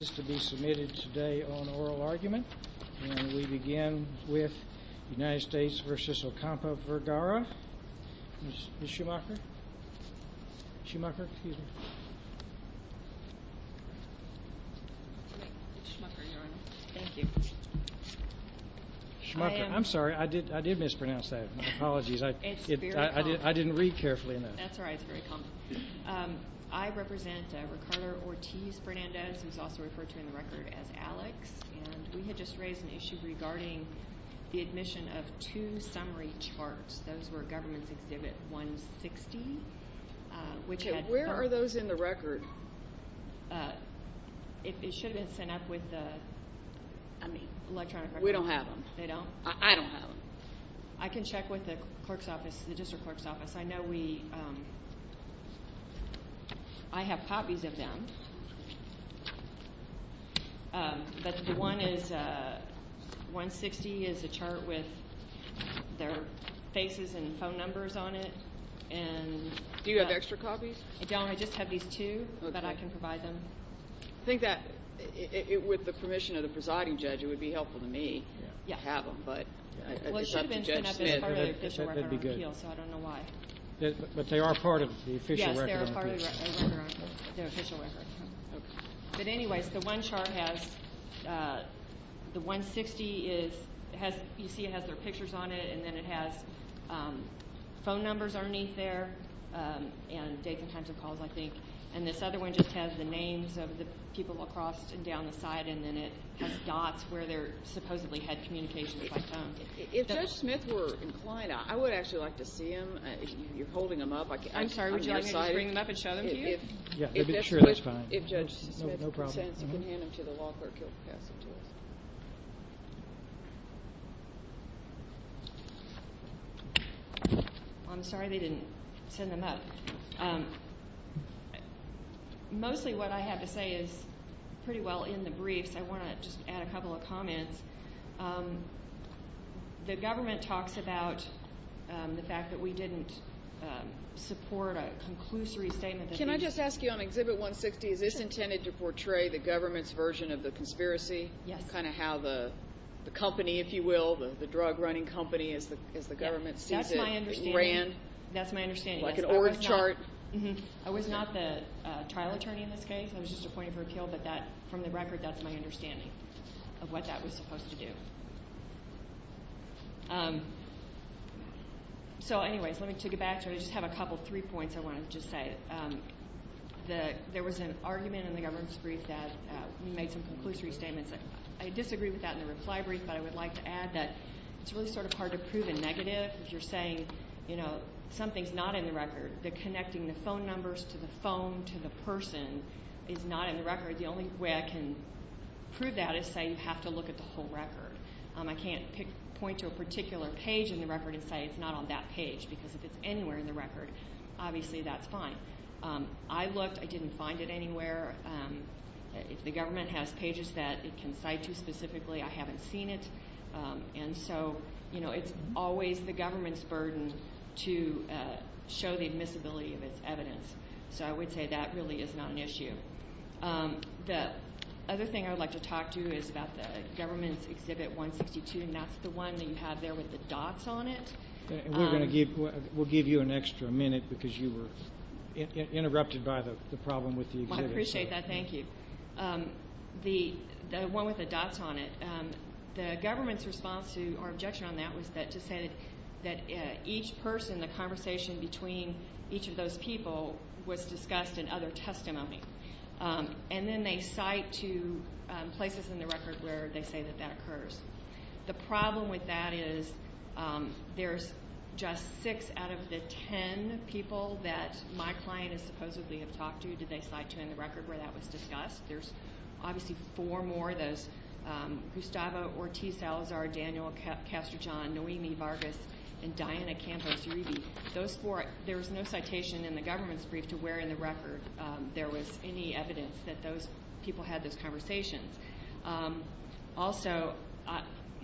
is to be submitted today on oral argument and we begin with United States v. Ocampo-Vergara. I'm sorry I did mispronounce that. My apologies. I didn't read carefully enough. That's all right. That's very common. I represent Ricardo Ortiz-Fernandez, who's also referred to in the record as Alex, and we had just raised an issue regarding the admission of two summary charts. Those were Government's Exhibit 160, which had... Okay, where are those in the record? It should have been sent up with the electronic... We don't have them. They don't? I don't have them. I can check with the clerk's office, the district clerk's office. I know we... I have copies of them, but the one is... 160 is a chart with their faces and phone numbers on it and... Do you have extra copies? I don't. I just have these two, but I can provide them. I think that with the permission of the presiding judge, it would be helpful to me to have them, but... Well, it should have been sent up as part of the official record on appeal, so I don't know why. But they are part of the official record on appeal? Yes, they are part of the official record. But anyways, the one chart has... The 160 is... You see it has their pictures on it, and then it has phone numbers underneath there and dates and times of calls, I think, and this other one just has the names of the people across and down the side, and then it has dots where they supposedly had communications by phone. If Judge Smith were inclined, I would actually like to see them. You're holding them up. I'm sorry, would you like me to bring them up and show them to you? Yeah, sure, that's fine. If Judge Smith consents, you can hand them to the law clerk. I'm sorry they didn't send them up. Mostly what I have to say is pretty well in the briefs. I want to just add a couple of comments. The government talks about the fact that we didn't support a conclusory statement. Can I just ask you on Exhibit 160, is this intended to portray the government's version of the conspiracy? Yes. Kind of how the company, if you will, the drug-running company, as the government sees it, ran. That's my understanding. Like an org chart? I was not the trial attorney in this case. I was just appointed for appeal, but from the record, that's my understanding of what that was supposed to do. So anyways, let me take it back. I just have a couple, three points I want to just say. There was an argument in the government's brief that we made some conclusory statements. I disagree with that in the reply brief, but I would like to add that it's really sort of hard to prove a negative if you're saying, you know, something's not in the record. The connecting the phone numbers to the phone to the person is not in the record. The only way I can prove that is say you have to look at the whole record. I can't point to a particular page in the record and say it's not on that page because if it's anywhere in the record, obviously that's fine. I looked. I didn't find it anywhere. If the government has pages that it can cite to specifically, I haven't seen it. And so, you know, it's always the government's burden to show the admissibility of its evidence. So I would say that really is not an issue. The other thing I would like to talk to you is about the government's Exhibit 162, and that's the one that you have there with the dots on it. We're going to give, we'll give you an extra minute because you were interrupted by the I appreciate that. Thank you. The one with the dots on it, the government's response to our objection on that was that to say that each person, the conversation between each of those people was discussed in other testimony. And then they cite to places in the record where they say that that occurs. The problem with that is there's just six out of the 10 people that my client supposedly have talked to, did they cite to in the record where that was discussed. There's obviously four more, those Gustavo Ortiz-Alazar, Daniel Castro-John, Noemi Vargas, and Diana Campos-Uribe. Those four, there was no citation in the government's brief to where in the record there was any evidence that those people had those conversations. Also,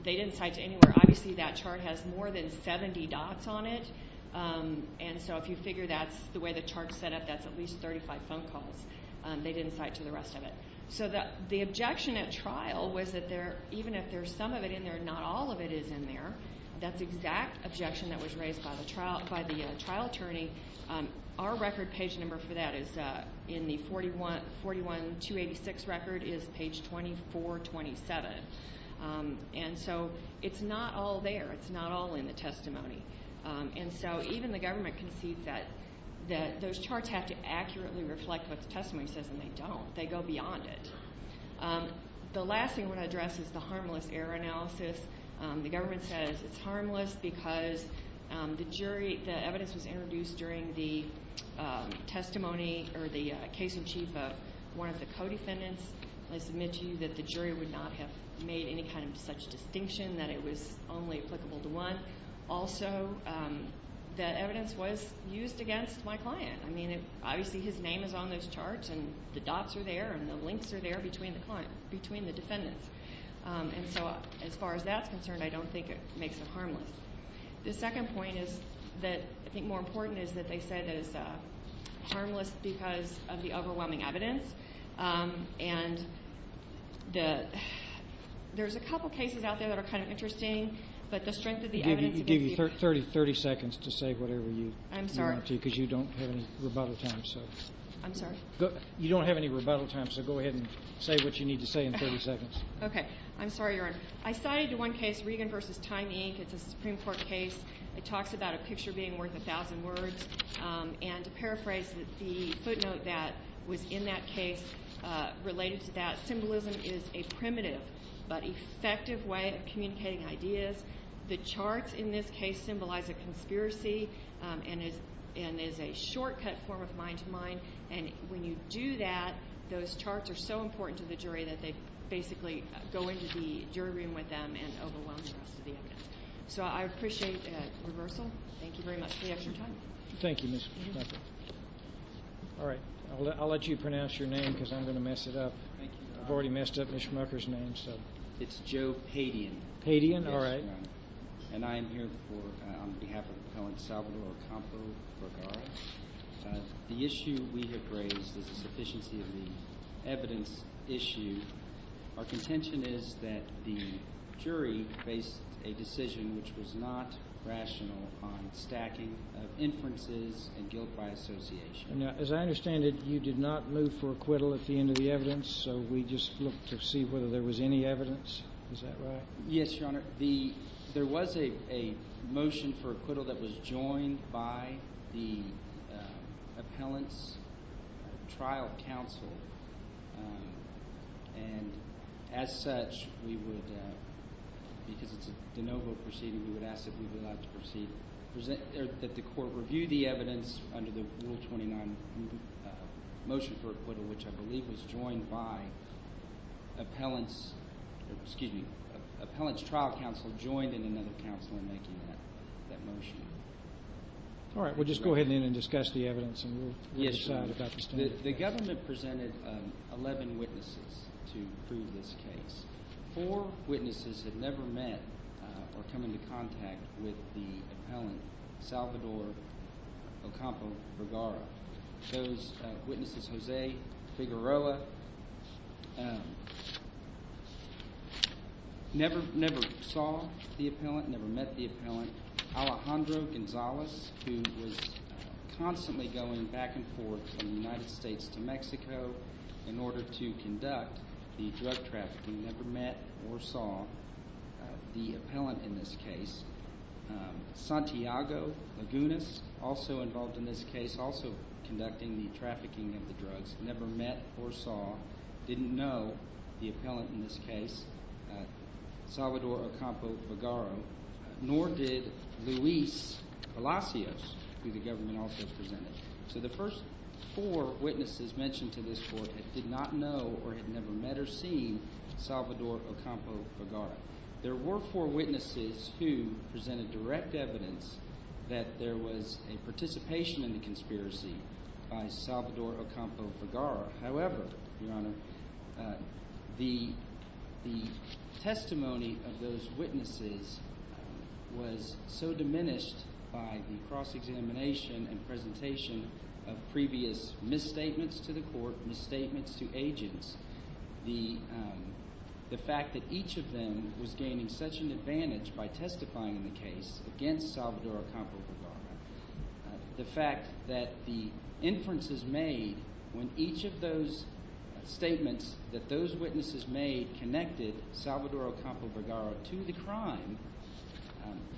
they didn't cite to anywhere. Obviously that chart has more than 70 dots on it. And so if you figure that's the way the chart's set up, that's at least 35 phone calls. They didn't cite to the rest of it. So the objection at trial was that even if there's some of it in there, not all of it is in there. That's the exact objection that was raised by the trial attorney. Our record page number for that is in the 41286 record is page 2427. And so it's not all there. It's not all in the testimony. And so even the government concedes that those charts have to accurately reflect what the testimony says, and they don't. They go beyond it. The last thing I want to address is the harmless error analysis. The government says it's harmless because the jury, the evidence was introduced during the testimony or the case in chief of one of the co-defendants. I submit to you that the jury would not have made any kind of such distinction, that it was only applicable to one. Also, the evidence was used against my client. I mean, obviously, his name is on those charts and the dots are there and the links are there between the defendants. And so as far as that's concerned, I don't think it makes it harmless. The second point is that I think more important is that they said it's harmless because of the overwhelming evidence. And there's a couple cases out there that are interesting, but the strength of the evidence against you... I'll give you 30 seconds to say whatever you want to, because you don't have any rebuttal time. I'm sorry? You don't have any rebuttal time, so go ahead and say what you need to say in 30 seconds. Okay. I'm sorry, Your Honor. I cited one case, Regan v. Time, Inc. It's a Supreme Court case. It talks about a picture being worth a thousand words. And to paraphrase the footnote that was in that case, related to that, symbolism is a primitive but effective way of communicating ideas. The charts in this case symbolize a conspiracy and is a shortcut form of mind-to-mind. And when you do that, those charts are so important to the jury that they basically go into the jury room with them and overwhelm the rest of the evidence. So I appreciate that reversal. Thank you very much for the extra time. Thank you, Mr. Schmucker. All right. I'll let you pronounce your name, because I'm going to mess it up. I've already messed up Mr. Schmucker's name, so... It's Joe Padian. Padian? All right. And I am here on behalf of Cohen Salvador Acampo Vergara. The issue we have raised is a sufficiency of the evidence issue. Our contention is that the jury faced a decision which was not rational on stacking of inferences and guilt by association. Now, as I understand it, you did not move for acquittal at the end of the evidence, so we just looked to see whether there was any evidence. Is that right? Yes, Your Honor. There was a motion for acquittal that was joined by the appellant's trial counsel. And as such, we would, because it's a de novo proceeding, we would ask that we would like to proceed, that the court review the evidence under the Rule 29 motion for acquittal, which I believe was joined by appellant's, excuse me, appellant's trial counsel joined in another counsel in making that motion. All right. We'll just go ahead and discuss the evidence, and we'll decide about this. The government presented 11 witnesses to prove this case. Four witnesses had never met or come into contact with the appellant, Salvador Acampo Vergara. Those witnesses, Jose Figueroa, never saw the appellant, never met the appellant. Alejandro Gonzalez, who was constantly going back and forth from the United States to Mexico in order to conduct the drug trafficking, never met or saw the appellant in this case. Santiago Lagunas, also involved in this case, also conducting the trafficking of the drugs, never met or saw, didn't know the appellant in this case, Salvador Acampo Vergara, nor did Luis Palacios, who the government also presented. So the first four witnesses mentioned to this court did not know or had never met or seen Salvador Acampo Vergara. There were four witnesses who presented direct evidence that there was a participation in the conspiracy by Salvador Acampo Vergara. However, Your Honor, the testimony of those witnesses was so diminished by the cross-examination and presentation of previous misstatements to the court, misstatements to agents, the fact that each of them was gaining such an advantage by testifying in the case against Salvador Acampo Vergara. The fact that the inferences made when each of those statements that those witnesses made connected Salvador Acampo Vergara to the crime,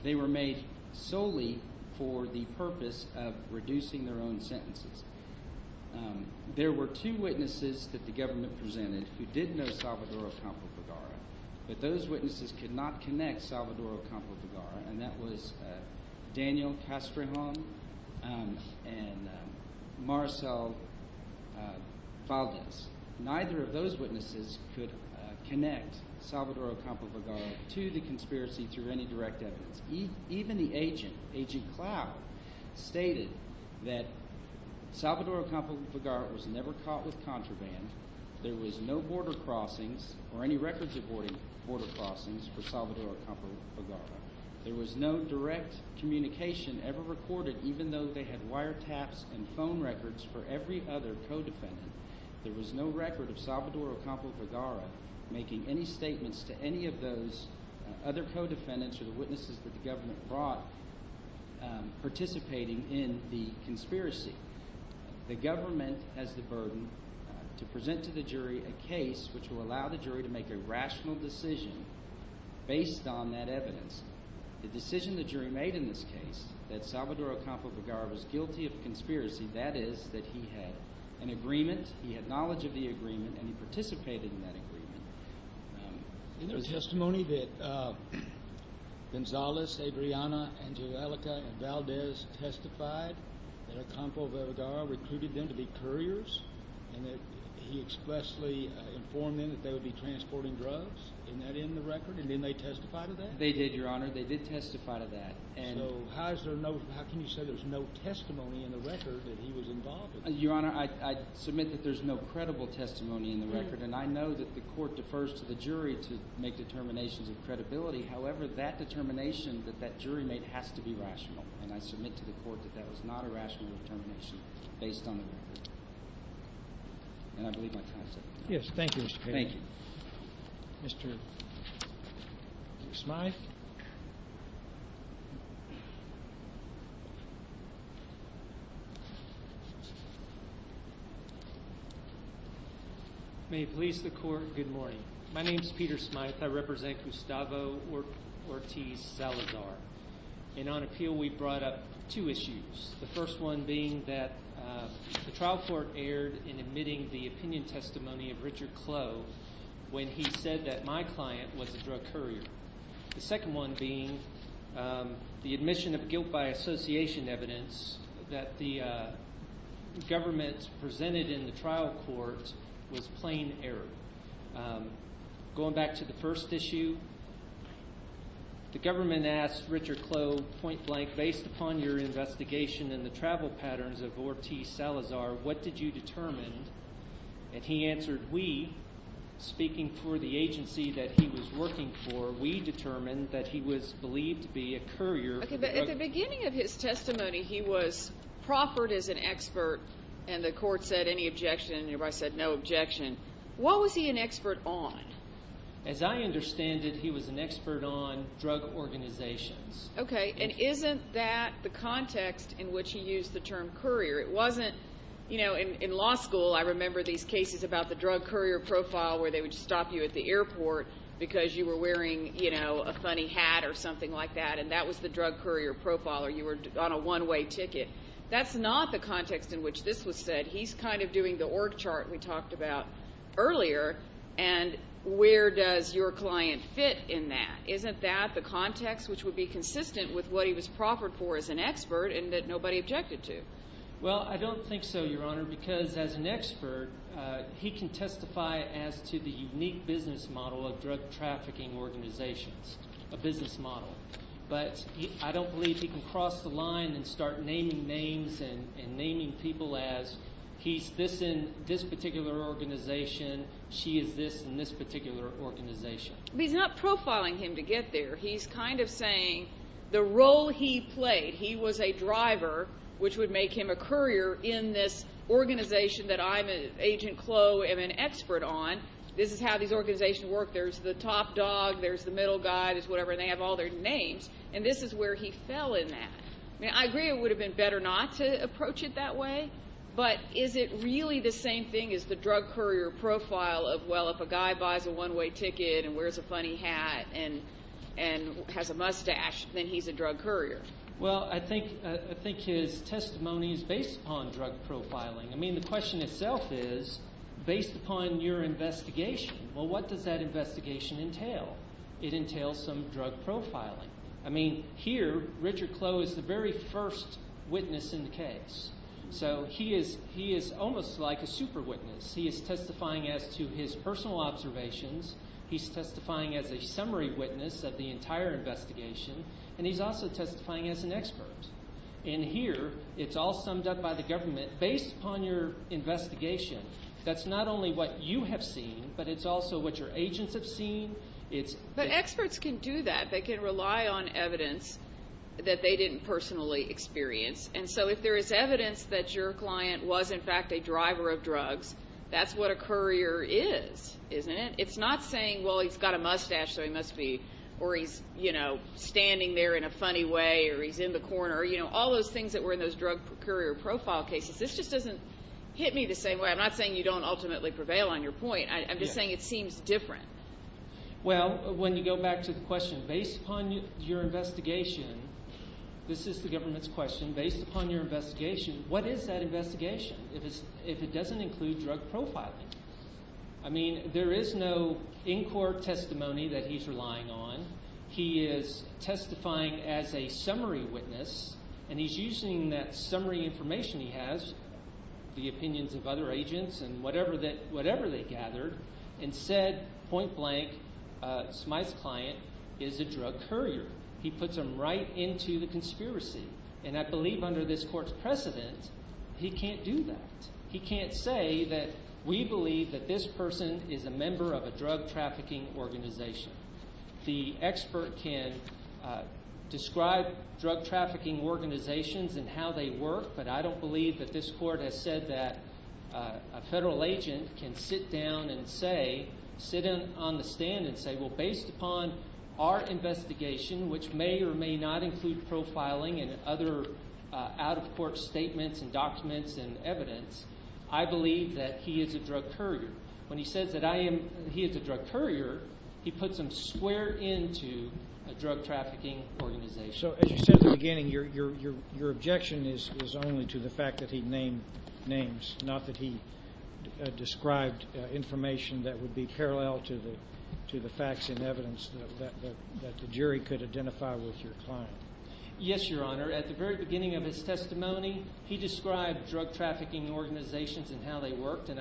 they were made solely for the purpose of reducing their own sentences. There were two witnesses that the government presented who did know Salvador Acampo Vergara, but those witnesses could not connect Salvador Acampo Vergara, and that was Daniel Castrejon and Marcel Valdez. Neither of those witnesses could connect Salvador Acampo Vergara to the conspiracy through any direct evidence. Even the agent, Agent Cloud, stated that Salvador Acampo Vergara was never caught with contraband. There was no border crossings or any records of border crossings for Salvador Acampo Vergara. There was no direct communication ever recorded, even though they had wiretaps and phone records for every other co-defendant. There was no record of Salvador Acampo Vergara making any statements to any of those other co-defendants or the witnesses that the government brought participating in the conspiracy. The government has the burden to present to the jury a case which will allow the jury to make a rational decision based on that evidence. The decision the jury made in this case that Salvador Acampo Vergara was guilty of conspiracy, that is that he had an agreement, he had knowledge of the agreement, and he participated in that agreement. Isn't there testimony that Gonzales, Adriana, Angelica, and Valdez testified that Acampo Vergara recruited them to be couriers and that he expressly informed them that they would be transporting drugs? Isn't that in the record? And didn't they testify to that? They did, Your Honor. They did testify to that. So how can you say there's no testimony in the record that he was involved with? Your Honor, I submit that there's no credible testimony in the record, and I know that the court defers to the jury to make determinations of credibility. However, that determination that that jury made has to be rational, and I submit to the court that that was not a rational determination based on the record. And I believe my time is up. Yes, thank you, Mr. Kagan. Thank you. Mr. Smyth. May it please the court, good morning. My name is Peter Smyth. I represent Gustavo Ortiz Salazar. And on appeal, we brought up two issues, the first one being that the trial court aired in admitting the opinion testimony of Richard Clough when he said that my client was a drug courier. The second one being the admission of guilt by association evidence that the government presented in the trial court was plain error. Going back to the first issue, the government asked Richard Clough, point blank, based upon your investigation and the travel patterns of Ortiz Salazar, what did you determine? And he answered, we, speaking for the agency that he was working for, we determined that he was believed to be a courier. Okay, but at the beginning of his testimony, he was proffered as an expert, and the court said any objection, and everybody said no objection. What was he an expert on? As I understand it, he was an expert on drug organizations. Okay, and isn't that the context in which he used the term courier? It wasn't, you know, in law school, I remember these cases about the drug courier profile, where they would stop you at the airport because you were wearing a funny hat or something like that, and that was the drug courier profile, or you were on a one-way ticket. That's not the context in which this was said. He's kind of doing the org chart we talked about earlier, and where does your client fit in that? Isn't that the context which would be consistent with what he was proffered for as an expert and that nobody objected to? Well, I don't think so, Your Honor, because as an expert, he can testify as to the unique business model of drug trafficking organizations, a business model, but I don't believe he can cross the line and start naming names and naming people as he's this in this particular organization, she is this in this particular organization. He's not profiling him to get there. He's kind of saying the role he played. He was a driver, which would make him a courier in this organization that I'm an agent CLO and an expert on. This is how these organizations work. There's the top dog, there's the middle guy, there's whatever, and they have all their names, and this is where he fell in that. I mean, I agree it would have been better not to approach it that way, but is it really the same thing as the drug courier profile of, well, if a guy buys a one-way ticket and wears a funny hat and has a mustache, then he's a drug courier? Well, I think his testimony is based upon drug profiling. I mean, the question itself is based upon your investigation. Well, what does that investigation entail? It entails some drug profiling. I mean, here, Richard CLO is the very first witness in the case, so he is almost like a super witness. He is testifying as to his personal observations. He's testifying as a summary witness of the entire investigation, and he's also testifying as an expert. And here, it's all summed up by the government based upon your investigation. That's not only what you have seen, but it's also what your agents have seen. But experts can do that. They can rely on evidence that they didn't personally experience, and so if there is evidence that your client was, in fact, a driver of drugs, that's what a courier is, isn't it? It's not saying, well, he's got a mustache, so he must be, or he's standing there in a funny way, or he's in the corner, all those things that were in those drug courier profile cases. This just doesn't hit me the same way. I'm not saying you don't ultimately prevail on your point. I'm just saying it seems different. Well, when you go back to the question, based upon your investigation, this is the government's question, based upon your investigation, what is that investigation if it doesn't include drug profiling? I mean, there is no in-court testimony that he's relying on. He is testifying as a summary witness, and he's using that summary information he has, the opinions of other agents and whatever they gathered, and said point blank, my client is a drug courier. He puts them right into the conspiracy, and I believe under this court's precedent, he can't do that. He can't say that we believe that this person is a member of a drug trafficking organization. The expert can describe drug trafficking organizations and how they work, but I don't believe that this court has said that a federal agent can sit down and say, sit on the stand and say, well, based upon our investigation, which may or may not include profiling and other out-of-court statements and drug profiling, he is a drug courier. When he says that he is a drug courier, he puts them square into a drug trafficking organization. So as you said at the beginning, your objection is only to the fact that he named names, not that he described information that would be parallel to the facts and evidence that the jury could identify with your client. Yes, Your Honor. At the very beginning of his testimony, he said that he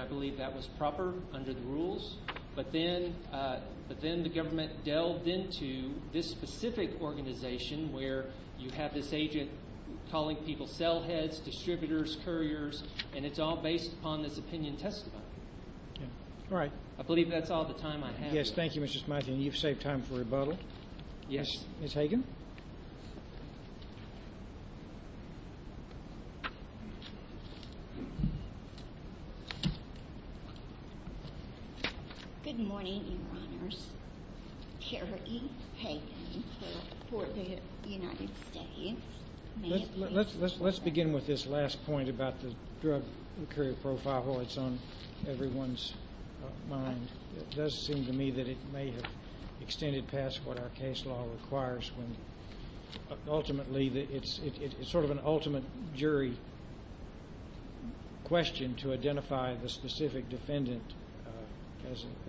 believed that was proper under the rules, but then the government delved into this specific organization where you have this agent calling people sell-heads, distributors, couriers, and it's all based upon this opinion testimony. I believe that's all the time I have. Yes, thank you, Mr. Smythian. You've saved time for rebuttal. Yes. Ms. Hagan. Good morning, Your Honors. Kerry Hagan for the United States. Let's begin with this last point about the drug courier profile. While it's on everyone's mind, it does seem to me that it may have extended past what our case law requires when it's sort of an ultimate jury question to identify the specific defendant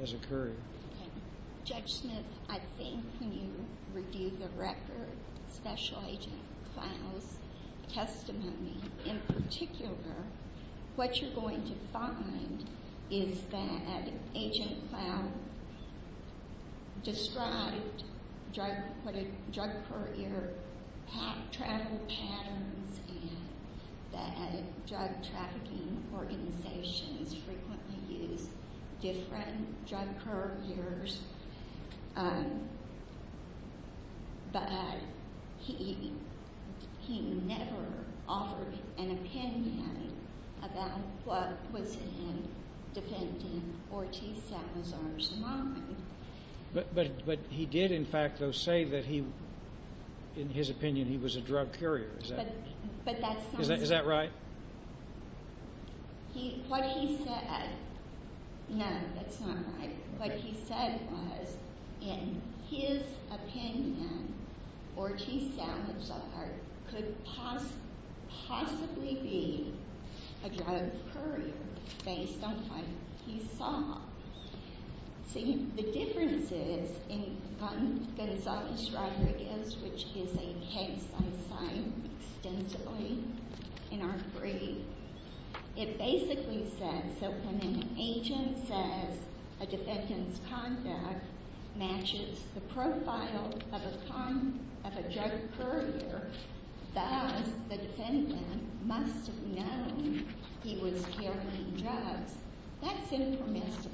as a courier. Okay. Judge Smyth, I think when you review the record, especially Agent Clow's testimony, in particular, what you're going to find is that Agent Clow described what a drug courier had traveled patterns and that drug trafficking organizations frequently used different drug couriers, but he never offered an opinion about what was in a defendant Ortiz Salazar's mind. But he did, in fact, though, say that he, in his opinion, he was a drug courier. Is that right? What he said, no, that's not right. What he said was, in his opinion, Ortiz Salazar could possibly be a drug courier based on what he saw. See, the difference is, in Gonzaga's rhetoric, which is a case I'm assigned extensively in our degree, it basically says that when an defendant's contact matches the profile of a drug courier, thus, the defendant must have known he was carrying drugs. That's information,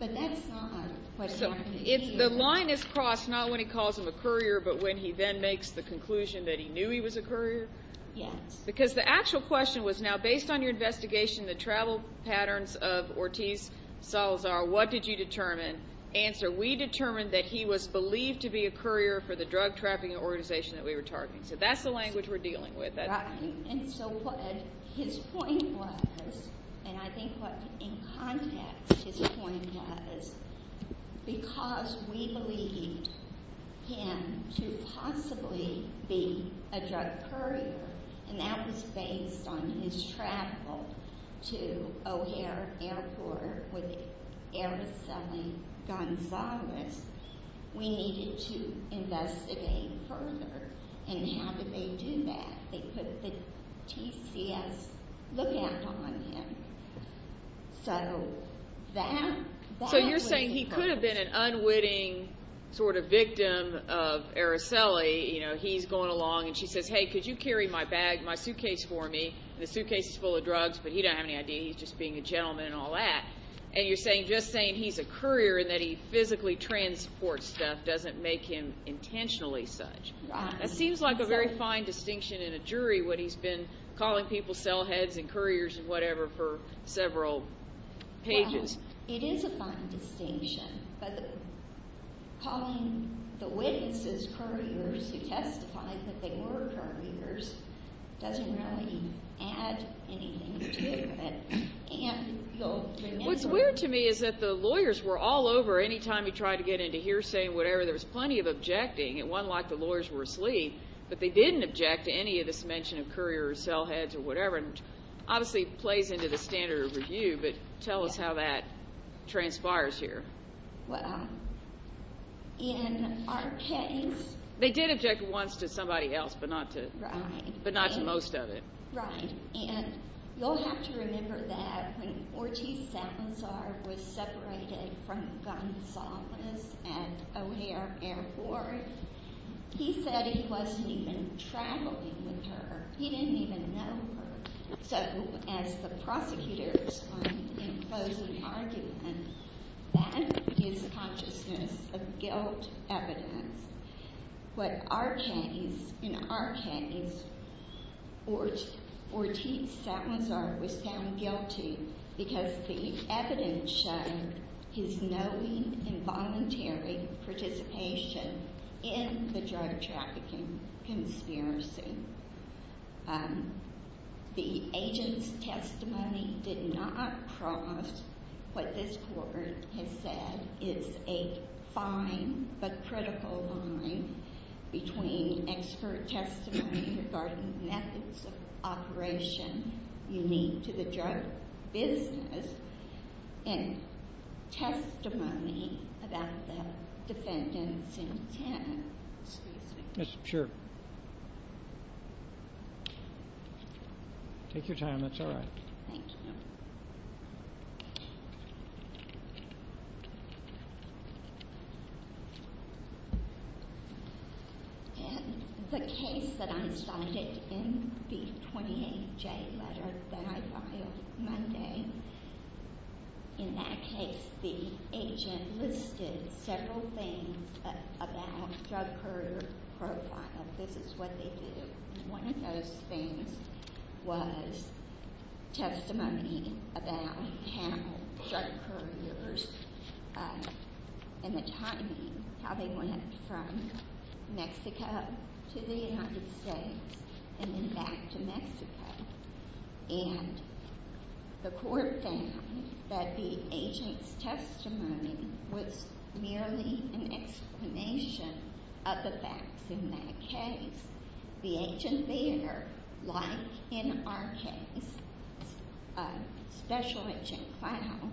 but that's not what happened here. So the line is crossed not when he calls him a courier, but when he then makes the conclusion that he knew he was a courier? Yes. Because the actual question was now, based on your answer, we determined that he was believed to be a courier for the drug trafficking organization that we were targeting. So that's the language we're dealing with. Right. And so what his point was, and I think what, in context, his point was, because we believed him to possibly be a drug courier, and that was based on his travel to O'Hare Airport with Araceli Gonzalez, we needed to investigate further. And how did they do that? They put the TCS look out on him. So that was the purpose. So you're saying he could have been an unwitting sort of victim of Araceli, you know, he's going and she says, hey, could you carry my bag, my suitcase for me? The suitcase is full of drugs, but he don't have any idea. He's just being a gentleman and all that. And you're saying, just saying he's a courier and that he physically transports stuff doesn't make him intentionally such. That seems like a very fine distinction in a jury when he's been calling people cell heads and couriers and whatever for several pages. It is a fine distinction, but calling the witnesses couriers who testified that they were couriers doesn't really add anything to it. What's weird to me is that the lawyers were all over any time he tried to get into hearsay and whatever. There was plenty of objecting. It wasn't like the lawyers were asleep, but they didn't object to any of this mention of courier or cell heads or whatever, and obviously plays into the but tell us how that transpires here. Well, in our case, they did object once to somebody else, but not to most of it. Right, and you'll have to remember that when Ortiz Salazar was separated from Gonzalez at O'Hare Airport, he said he wasn't even traveling with her. He didn't even know her. So, as the prosecutor explained in a closing argument, that is consciousness of guilt evidence. In our case, Ortiz Salazar was found guilty because the evidence showed his knowing involuntary participation in the drug trafficking conspiracy. Um, the agent's testimony did not cross what this court has said is a fine but critical line between expert testimony regarding methods of operation unique to the drug business and testimony about the defendant's intent. Excuse me. Yes, sure. Take your time. That's all right. Thank you. Okay. And the case that I started in the 28 J letter that I filed Monday. In that case, the agent listed several things about drug courier profile. This is what they was testimony about how drug couriers and the timing, how they went from Mexico to the United States and then back to Mexico. And the court found that the agent's testimony was merely an explanation of the facts. In that case, the agent there, like in our case, special agent clown,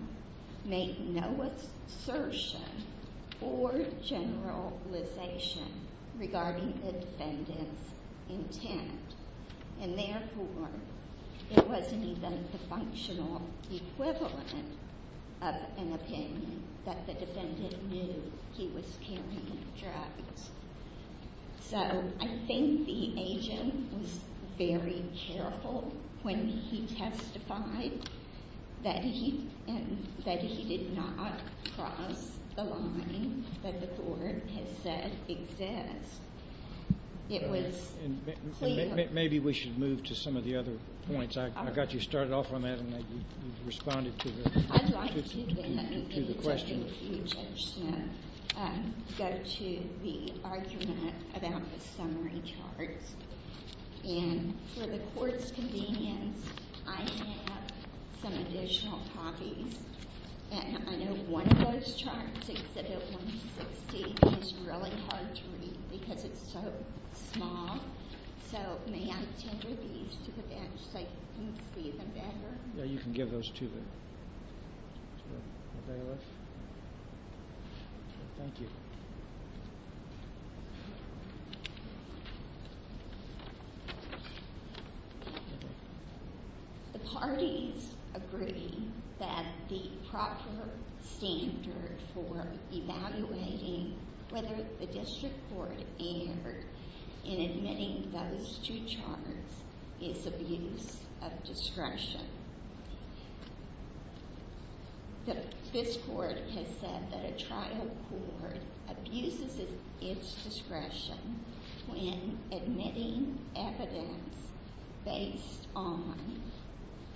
made no assertion or generalization regarding the defendant's intent. And therefore, it wasn't even the functional equivalent of an opinion that the defendant knew he was carrying drugs. So I think the agent was very careful when he testified that he and that he did not cross the line that the court has said exists. It was maybe we should move to some of the other points. I got you started off on that. And they responded to the question. Go to the argument about the summary charts. And for the court's convenience, I have some additional copies. And I know one of those charts is really hard to read because it's so small. So may I tender these to the bench so I can see them better? Yeah, you can give those to them. Thank you. The parties agree that the proper standard for evaluating whether the district court erred in admitting those two charges is abuse of discretion. This court has said that a trial court abuses its discretion when admitting evidence based on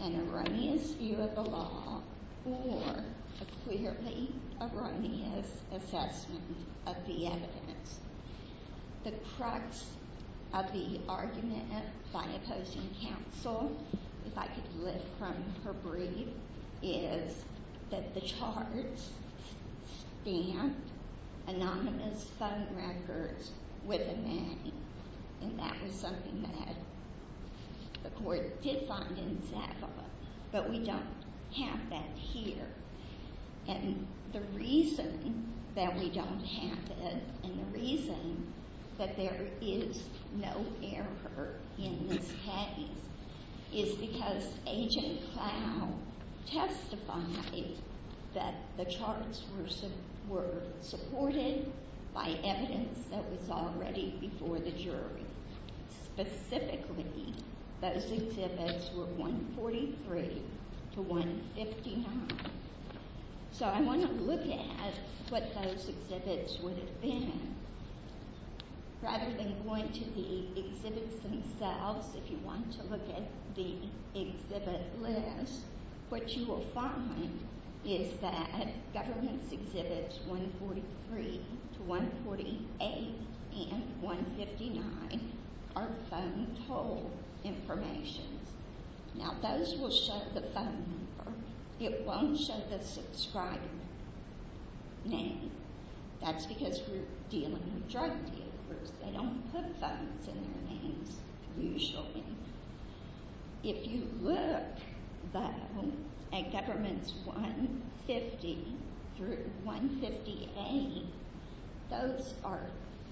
an erroneous view of the law or a clearly erroneous assessment of the evidence. The crux of the argument by opposing counsel, if I could lift from her brief, is that the charts stand anonymous phone records with a name. And that was something that the court did find in Zappa. But we don't have that here. And the reason that we don't have it and the reason that there is no error in this case is because Agent Clow testified that the charts were supported by evidence that was already before the jury. Specifically, those exhibits were 143 to 159. So I want to look at what those exhibits would have been. Rather than going to the exhibits themselves, if you want to look at the exhibit list, what you will find is that now those will show the phone number. It won't show the subscriber name. That's because we're dealing with drug dealers. They don't put phones in their names usually. If you look though at Government's 150 through 158, those are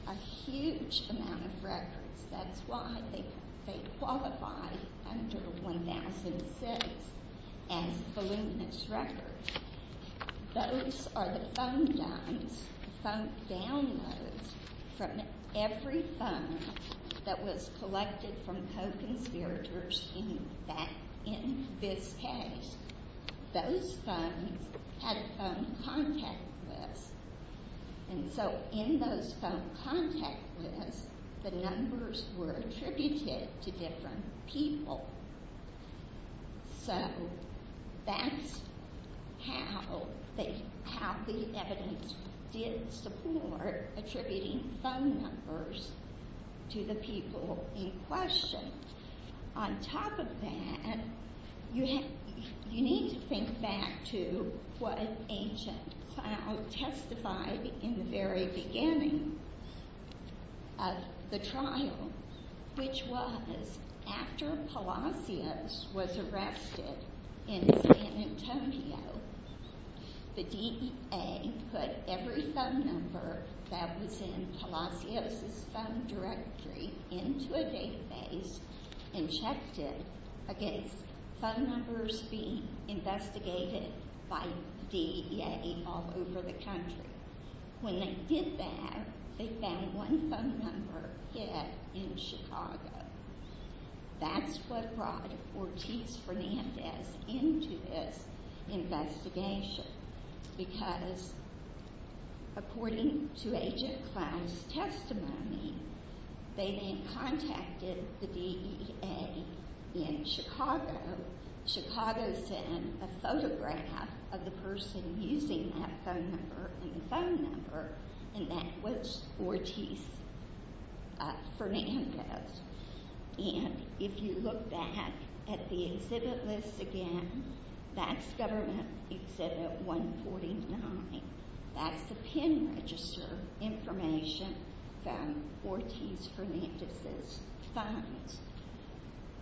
a huge amount of records. That's why they qualify under 1006 as voluminous records. Those are the phone downloads from every phone that was collected from those funds had a phone contact list. And so in those phone contact lists, the numbers were attributed to different people. So that's how the evidence did support attributing phone numbers to the people in question. On top of that, you need to think back to what Agent Clow testified in the very beginning of the trial, which was after Palacios was arrested in San Antonio, the DEA put every phone number that was in Palacios' phone directory into a database and checked it against phone numbers being investigated by DEA all over the country. When they did that, they found one phone number hid in Chicago. That's what brought Ortiz-Fernandez into this investigation because according to Agent Clow's testimony, they then contacted the DEA in Chicago. Chicago sent a photograph of the person using that phone number and the phone number and that was Ortiz-Fernandez. And if you look back at the exhibit list again, that's Government Exhibit 149. That's the pin register information from Ortiz-Fernandez's funds.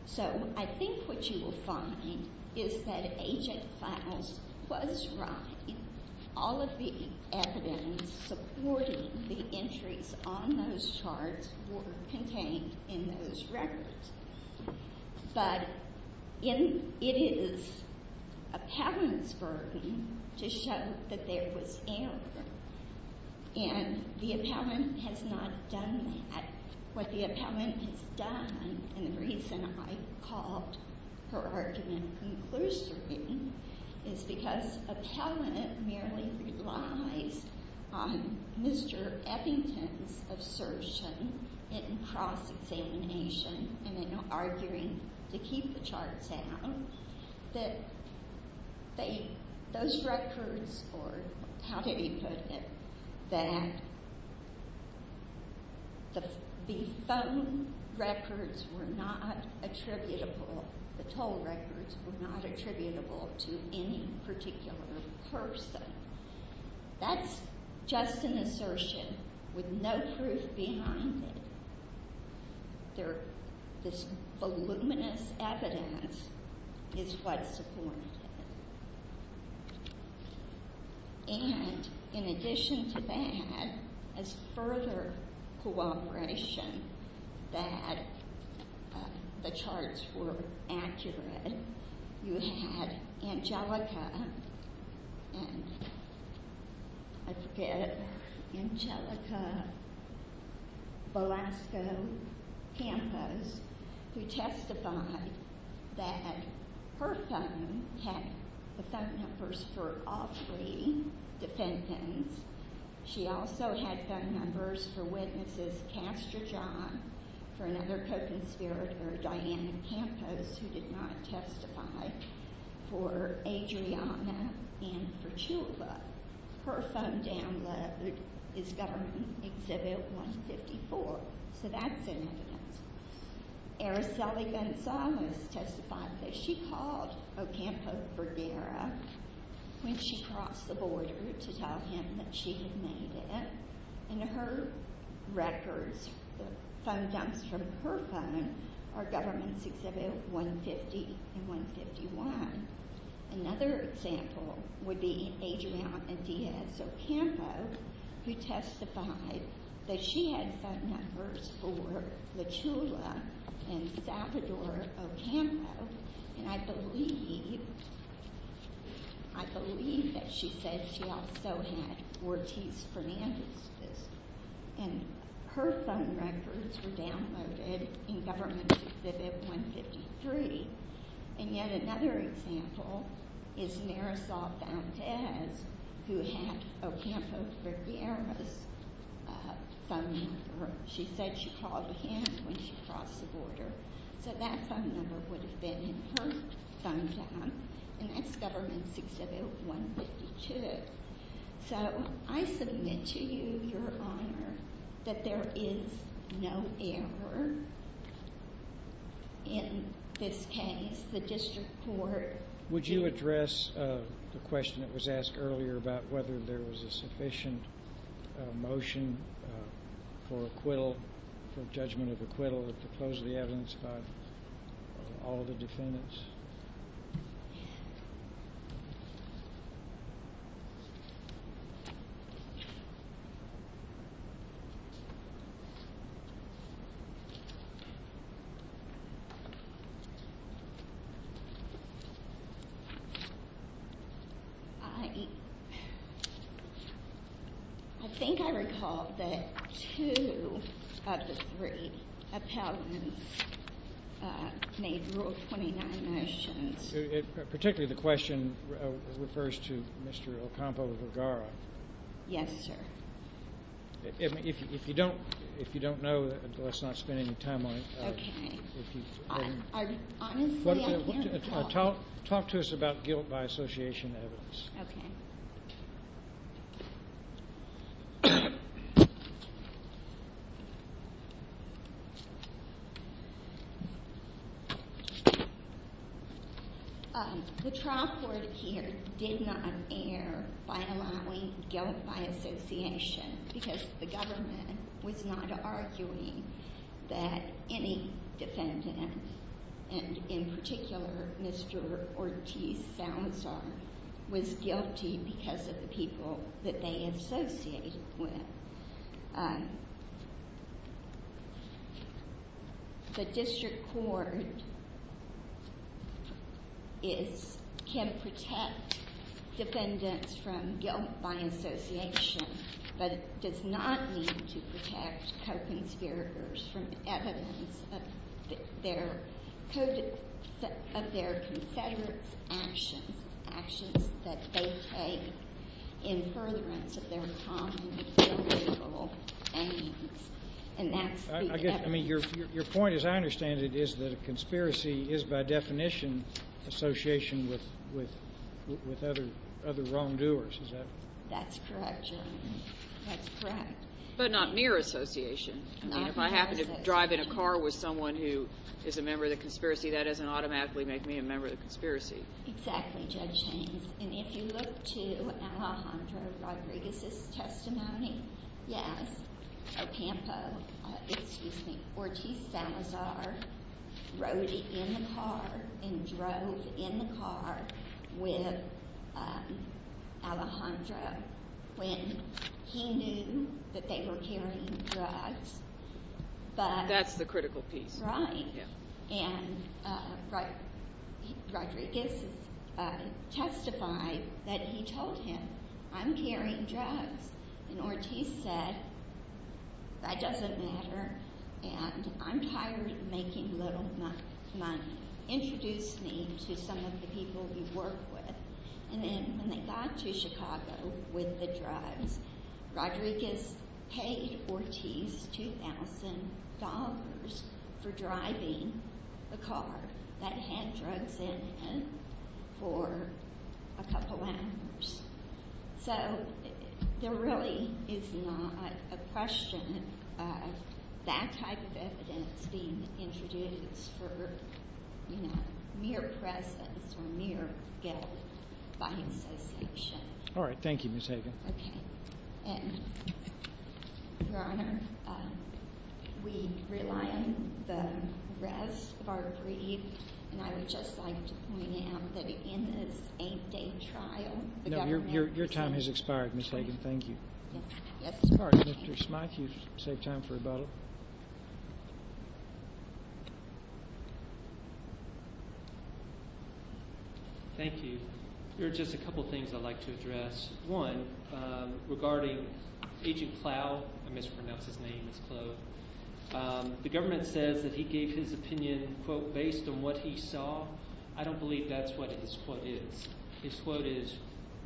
So I think what you will find is that Agent Clow was right. All of the evidence supporting the entries on those charts were contained in those records. But it is appellant's burden to show that there was error. And the appellant has not done that. What the appellant has done, and the reason I called her argument conclusory, is because appellant merely relies on Mr. Effington's assertion in cross-examination and in arguing to keep the charts out, that those records or how do you put it, that the phone records were not attributable, the toll records were not attributable to any particular person. That's just an assertion with no proof behind it. There, this voluminous evidence is what supported it. And in addition to that, as further cooperation, that the charts were accurate, you had Angelica and I forget, Angelica Velasco Campos, who testified that her phone had the phone numbers for all three defendants. She also had phone numbers for witnesses Castro-John, for another co-conspirator, Diana Campos, who did not testify, for Adriana and for Chula. Her phone download is Government Exhibit 154. So that's in evidence. Araceli Gonzalez testified that she called Ocampo Vergara when she crossed the border to tell him that she had made it, and her records, the phone dumps from her phone, are Government Exhibit 150 and 151. Another example would be Adriana Diaz Ocampo, who testified that she had phone numbers for and I believe, I believe that she said she also had Ortiz Fernandez, and her phone records were downloaded in Government Exhibit 153. And yet another example is Marisol Fontes, who had Ocampo Vergara's phone number. She said she called him when she crossed the border, so that phone number would have been in her phone dump, and that's Government Exhibit 152. So I submit to you, Your Honor, that there is no error in this case. The District Court... Would you address the question that was asked earlier about whether there was a sufficient motion for acquittal, for judgment of acquittal, to close the evidence by all of the defendants? I think I recall that two of the three appellants made Rule 29 motions. Particularly the question refers to Mr. Ocampo Vergara. Yes, sir. If you don't, if you don't know, let's not spend any time on it. Talk to us about guilt by association evidence. The trial court here did not err by allowing guilt by association, because the government was not arguing that any defendant, and in particular Mr. Ortiz Salazar, was guilty because of the people that they associated with. The District Court can protect defendants from guilt by association, but does not need to protect co-conspirators from evidence of their Confederate actions, that they take in furtherance of their common, charitable aims. I mean, your point, as I understand it, is that a conspiracy is by definition association with other wrongdoers. Is that... That's correct, Your Honor. That's correct. But not mere association. I mean, if I happen to drive in a car with someone who is a member of the conspiracy, that doesn't automatically make me a member of the conspiracy. Exactly, Judge James. And if you look to Alejandro Rodriguez's testimony, yes, Ocampo, excuse me, Ortiz Salazar, rode in the car and drove in the car with Alejandro when he knew that they were carrying drugs, but... That's the critical piece. Right. And Rodriguez testified that he told him, I'm carrying drugs. And Ortiz said, that doesn't matter, and I'm tired of making little money. Introduced me to some of the people he worked with. And then when they got to Chicago with the drugs, Rodriguez paid Ortiz $2,000 for driving the car that had drugs in it for a couple hours. So there really is not a question of that type of evidence being introduced for mere presence or mere guilt by association. Okay. Your Honor, we rely on the rest of our brief, and I would just like to point out that in this eight-day trial... No, your time has expired, Ms. Hagan. Thank you. Mr. Schmeich, you've saved time for rebuttal. Thank you. There are just a couple things I'd like to address. One, regarding Agent Clough, I mispronounced his name, it's Clough. The government says that he gave his opinion, quote, based on what he saw. I don't believe that's what his quote is. His quote is,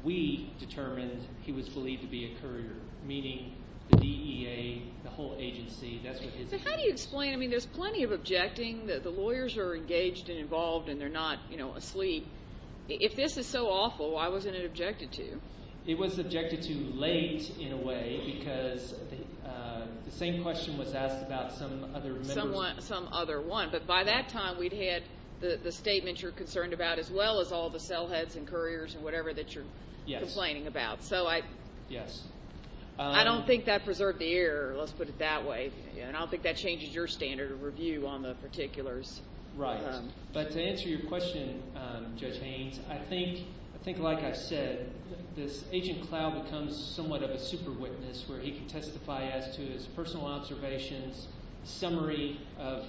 we determined he was believed to be a courier, meaning the DEA, the whole agency, that's what his... So how do you explain, I mean, there's plenty of objecting that the lawyers are engaged and involved and they're not, you know, asleep. If this is so awful, why wasn't it objected to? It was objected to late, in a way, because the same question was asked about some other... Some other one. But by that time, we'd had the statement you're concerned about, as well as all the cell heads and couriers and whatever that you're complaining about. So I... Yes. I don't think that preserved the air, let's put it that way, and I don't think that changes your standard of review on the particulars. Right. But to answer your question, Judge Haynes, I think, like I said, this Agent Clough becomes somewhat of a super witness, where he can testify as to his personal observations, summary of...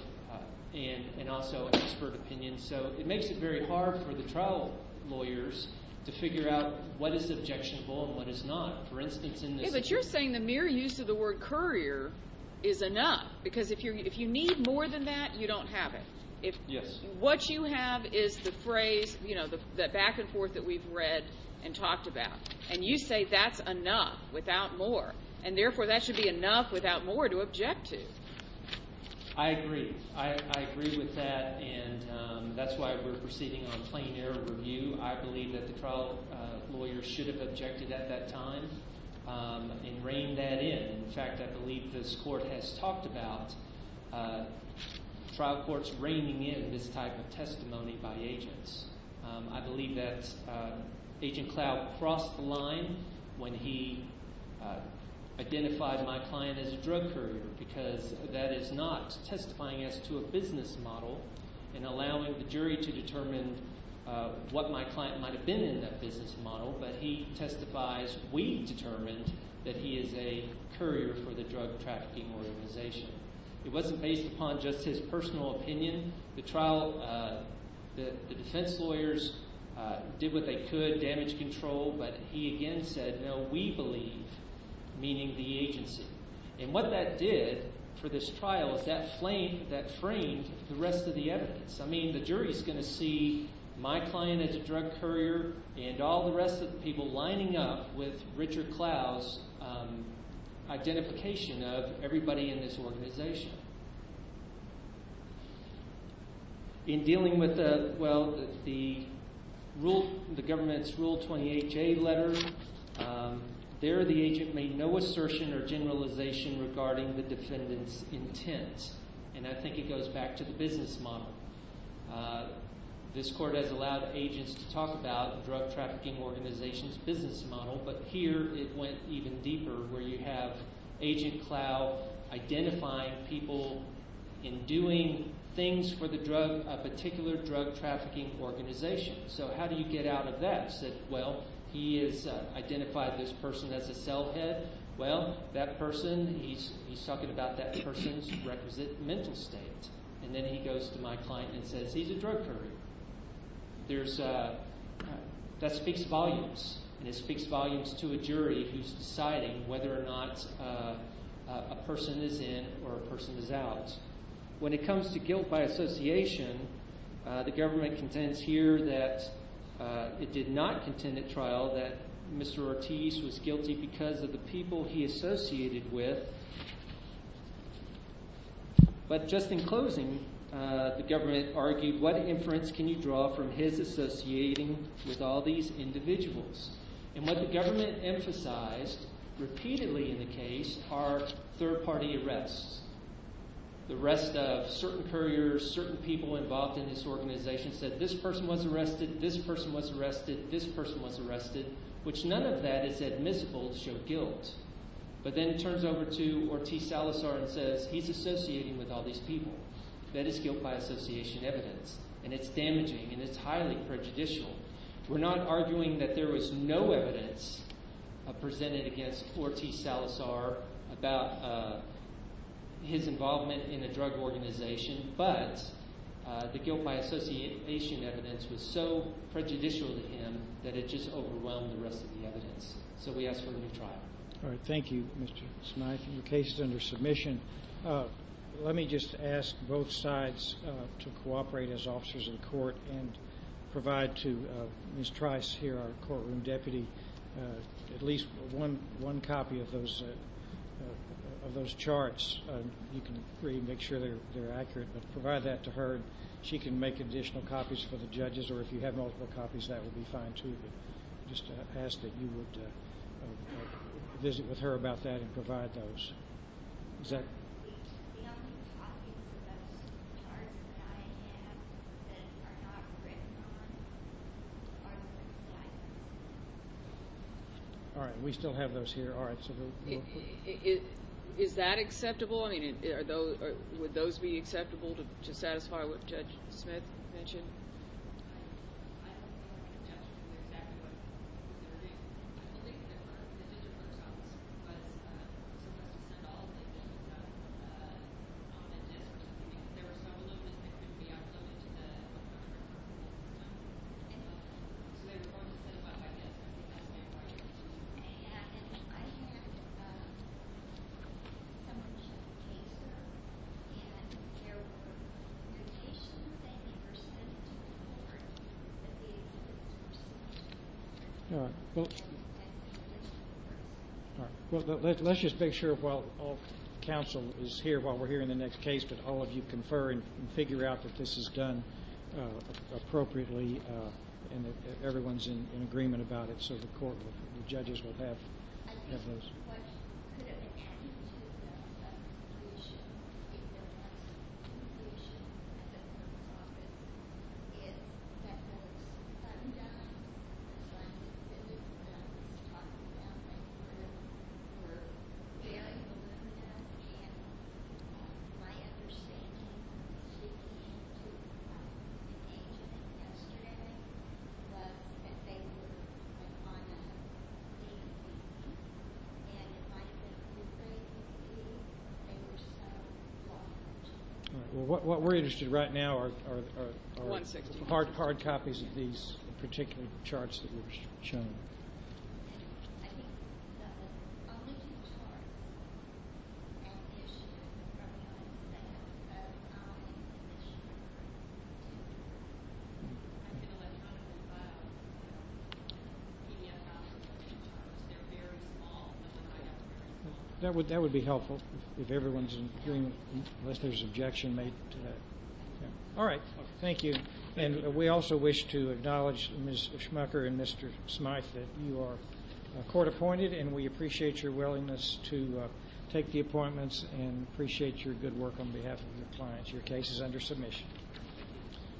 And also expert opinions. So it makes it very hard for the trial lawyers to figure out what is objectionable and what is not. For instance, in this... Yeah, but you're saying the mere use of the word courier is enough, because if you need more than that, you don't have it. If... Yes. What you have is the phrase, you know, the back and forth that we've read and talked about, and you say that's enough, without more. And therefore, that should be enough without more to object to. I agree. I agree with that, and that's why we're proceeding on plain air review. I believe that the trial lawyers should have objected at that time and reigned that in. In fact, I believe this court has talked about trial courts reigning in this type of testimony by agents. I believe that Agent Clough crossed the line when he identified my client as a drug courier, because that is not testifying as to a business model and allowing the jury to determine what my client might have been in that business model, but he testifies we determined that he is a courier for the drug trafficking organization. It wasn't based upon just his personal opinion. The defense lawyers did what they could, damage control, but he again said, no, we believe, meaning the agency. And what that did for this trial is that framed the rest of the evidence. I mean, the jury is going to see my client as a drug courier and all the rest of the people lining up with Richard Clough's identification of everybody in this organization. In dealing with the government's Rule 28J letter, there the agent made no assertion or generalization regarding the defendant's intent, and I think it goes back to the business model. This court has allowed agents to talk about the drug trafficking organization's business model, but here it went even deeper, where you have agent Clough identifying people in doing things for the drug, a particular drug trafficking organization. So how do you get out of that? Said, well, he has identified this person as a cell head. Well, that person, he's talking about that person's requisite mental state. And then he goes to my client and says, he's a drug courier. There's, that speaks volumes, and it speaks volumes to a jury who's deciding whether or not a person is in or a person is out. When it comes to guilt by association, the government contends here that it did not contend at trial that Mr. Ortiz was guilty because of the people he associated with. But just in closing, the government argued, what inference can you draw from his associating with all these individuals? And what the government emphasized repeatedly in the case are third-party arrests. The rest of certain couriers, certain people involved in this organization said, this person was arrested, this person was arrested, this person was arrested, which none of that is admissible to show guilt. But then turns over to Ortiz Salazar and says, he's associating with all these people. That is guilt by association evidence, and it's damaging, and it's highly prejudicial. We're not arguing that there was no evidence presented against Ortiz Salazar about his involvement in a drug organization, but the guilt by association evidence was so we asked for a new trial. All right. Thank you, Mr. Smythe. Your case is under submission. Let me just ask both sides to cooperate as officers in court and provide to Ms. Trice here, our courtroom deputy, at least one copy of those charts. You can agree to make sure they're accurate, but provide that to her. She can make additional copies for the judges, or if you have copies, that would be fine, too. Just ask that you would visit with her about that and provide those. All right. We still have those here. All right. Is that acceptable? I mean, would those be acceptable to satisfy what Judge Smith mentioned? I don't think I can tell you exactly what they were doing. I believe that the digital results were supposed to send all of the evidence out on a disk or something, because there were several of those that couldn't be uploaded to the public records system, so they were going to send them out by disk. I think that's fair, right? All right. Well, let's just make sure while all counsel is here, while we're hearing the next case, that all of you confer and figure out that this is done appropriately and that everyone's in the courtroom and the judges will have those. All right. Well, what we're interested in right now are hard copies of these particular charts that were shown. They're very small. That would be helpful if everyone's in agreement, unless there's objection made to that. All right. Thank you. And we also wish to acknowledge Ms. Schmucker and Mr. Smyth that you are court appointed, and we appreciate your willingness to take the appointments and appreciate your good work on behalf of your clients. Your case is under submission.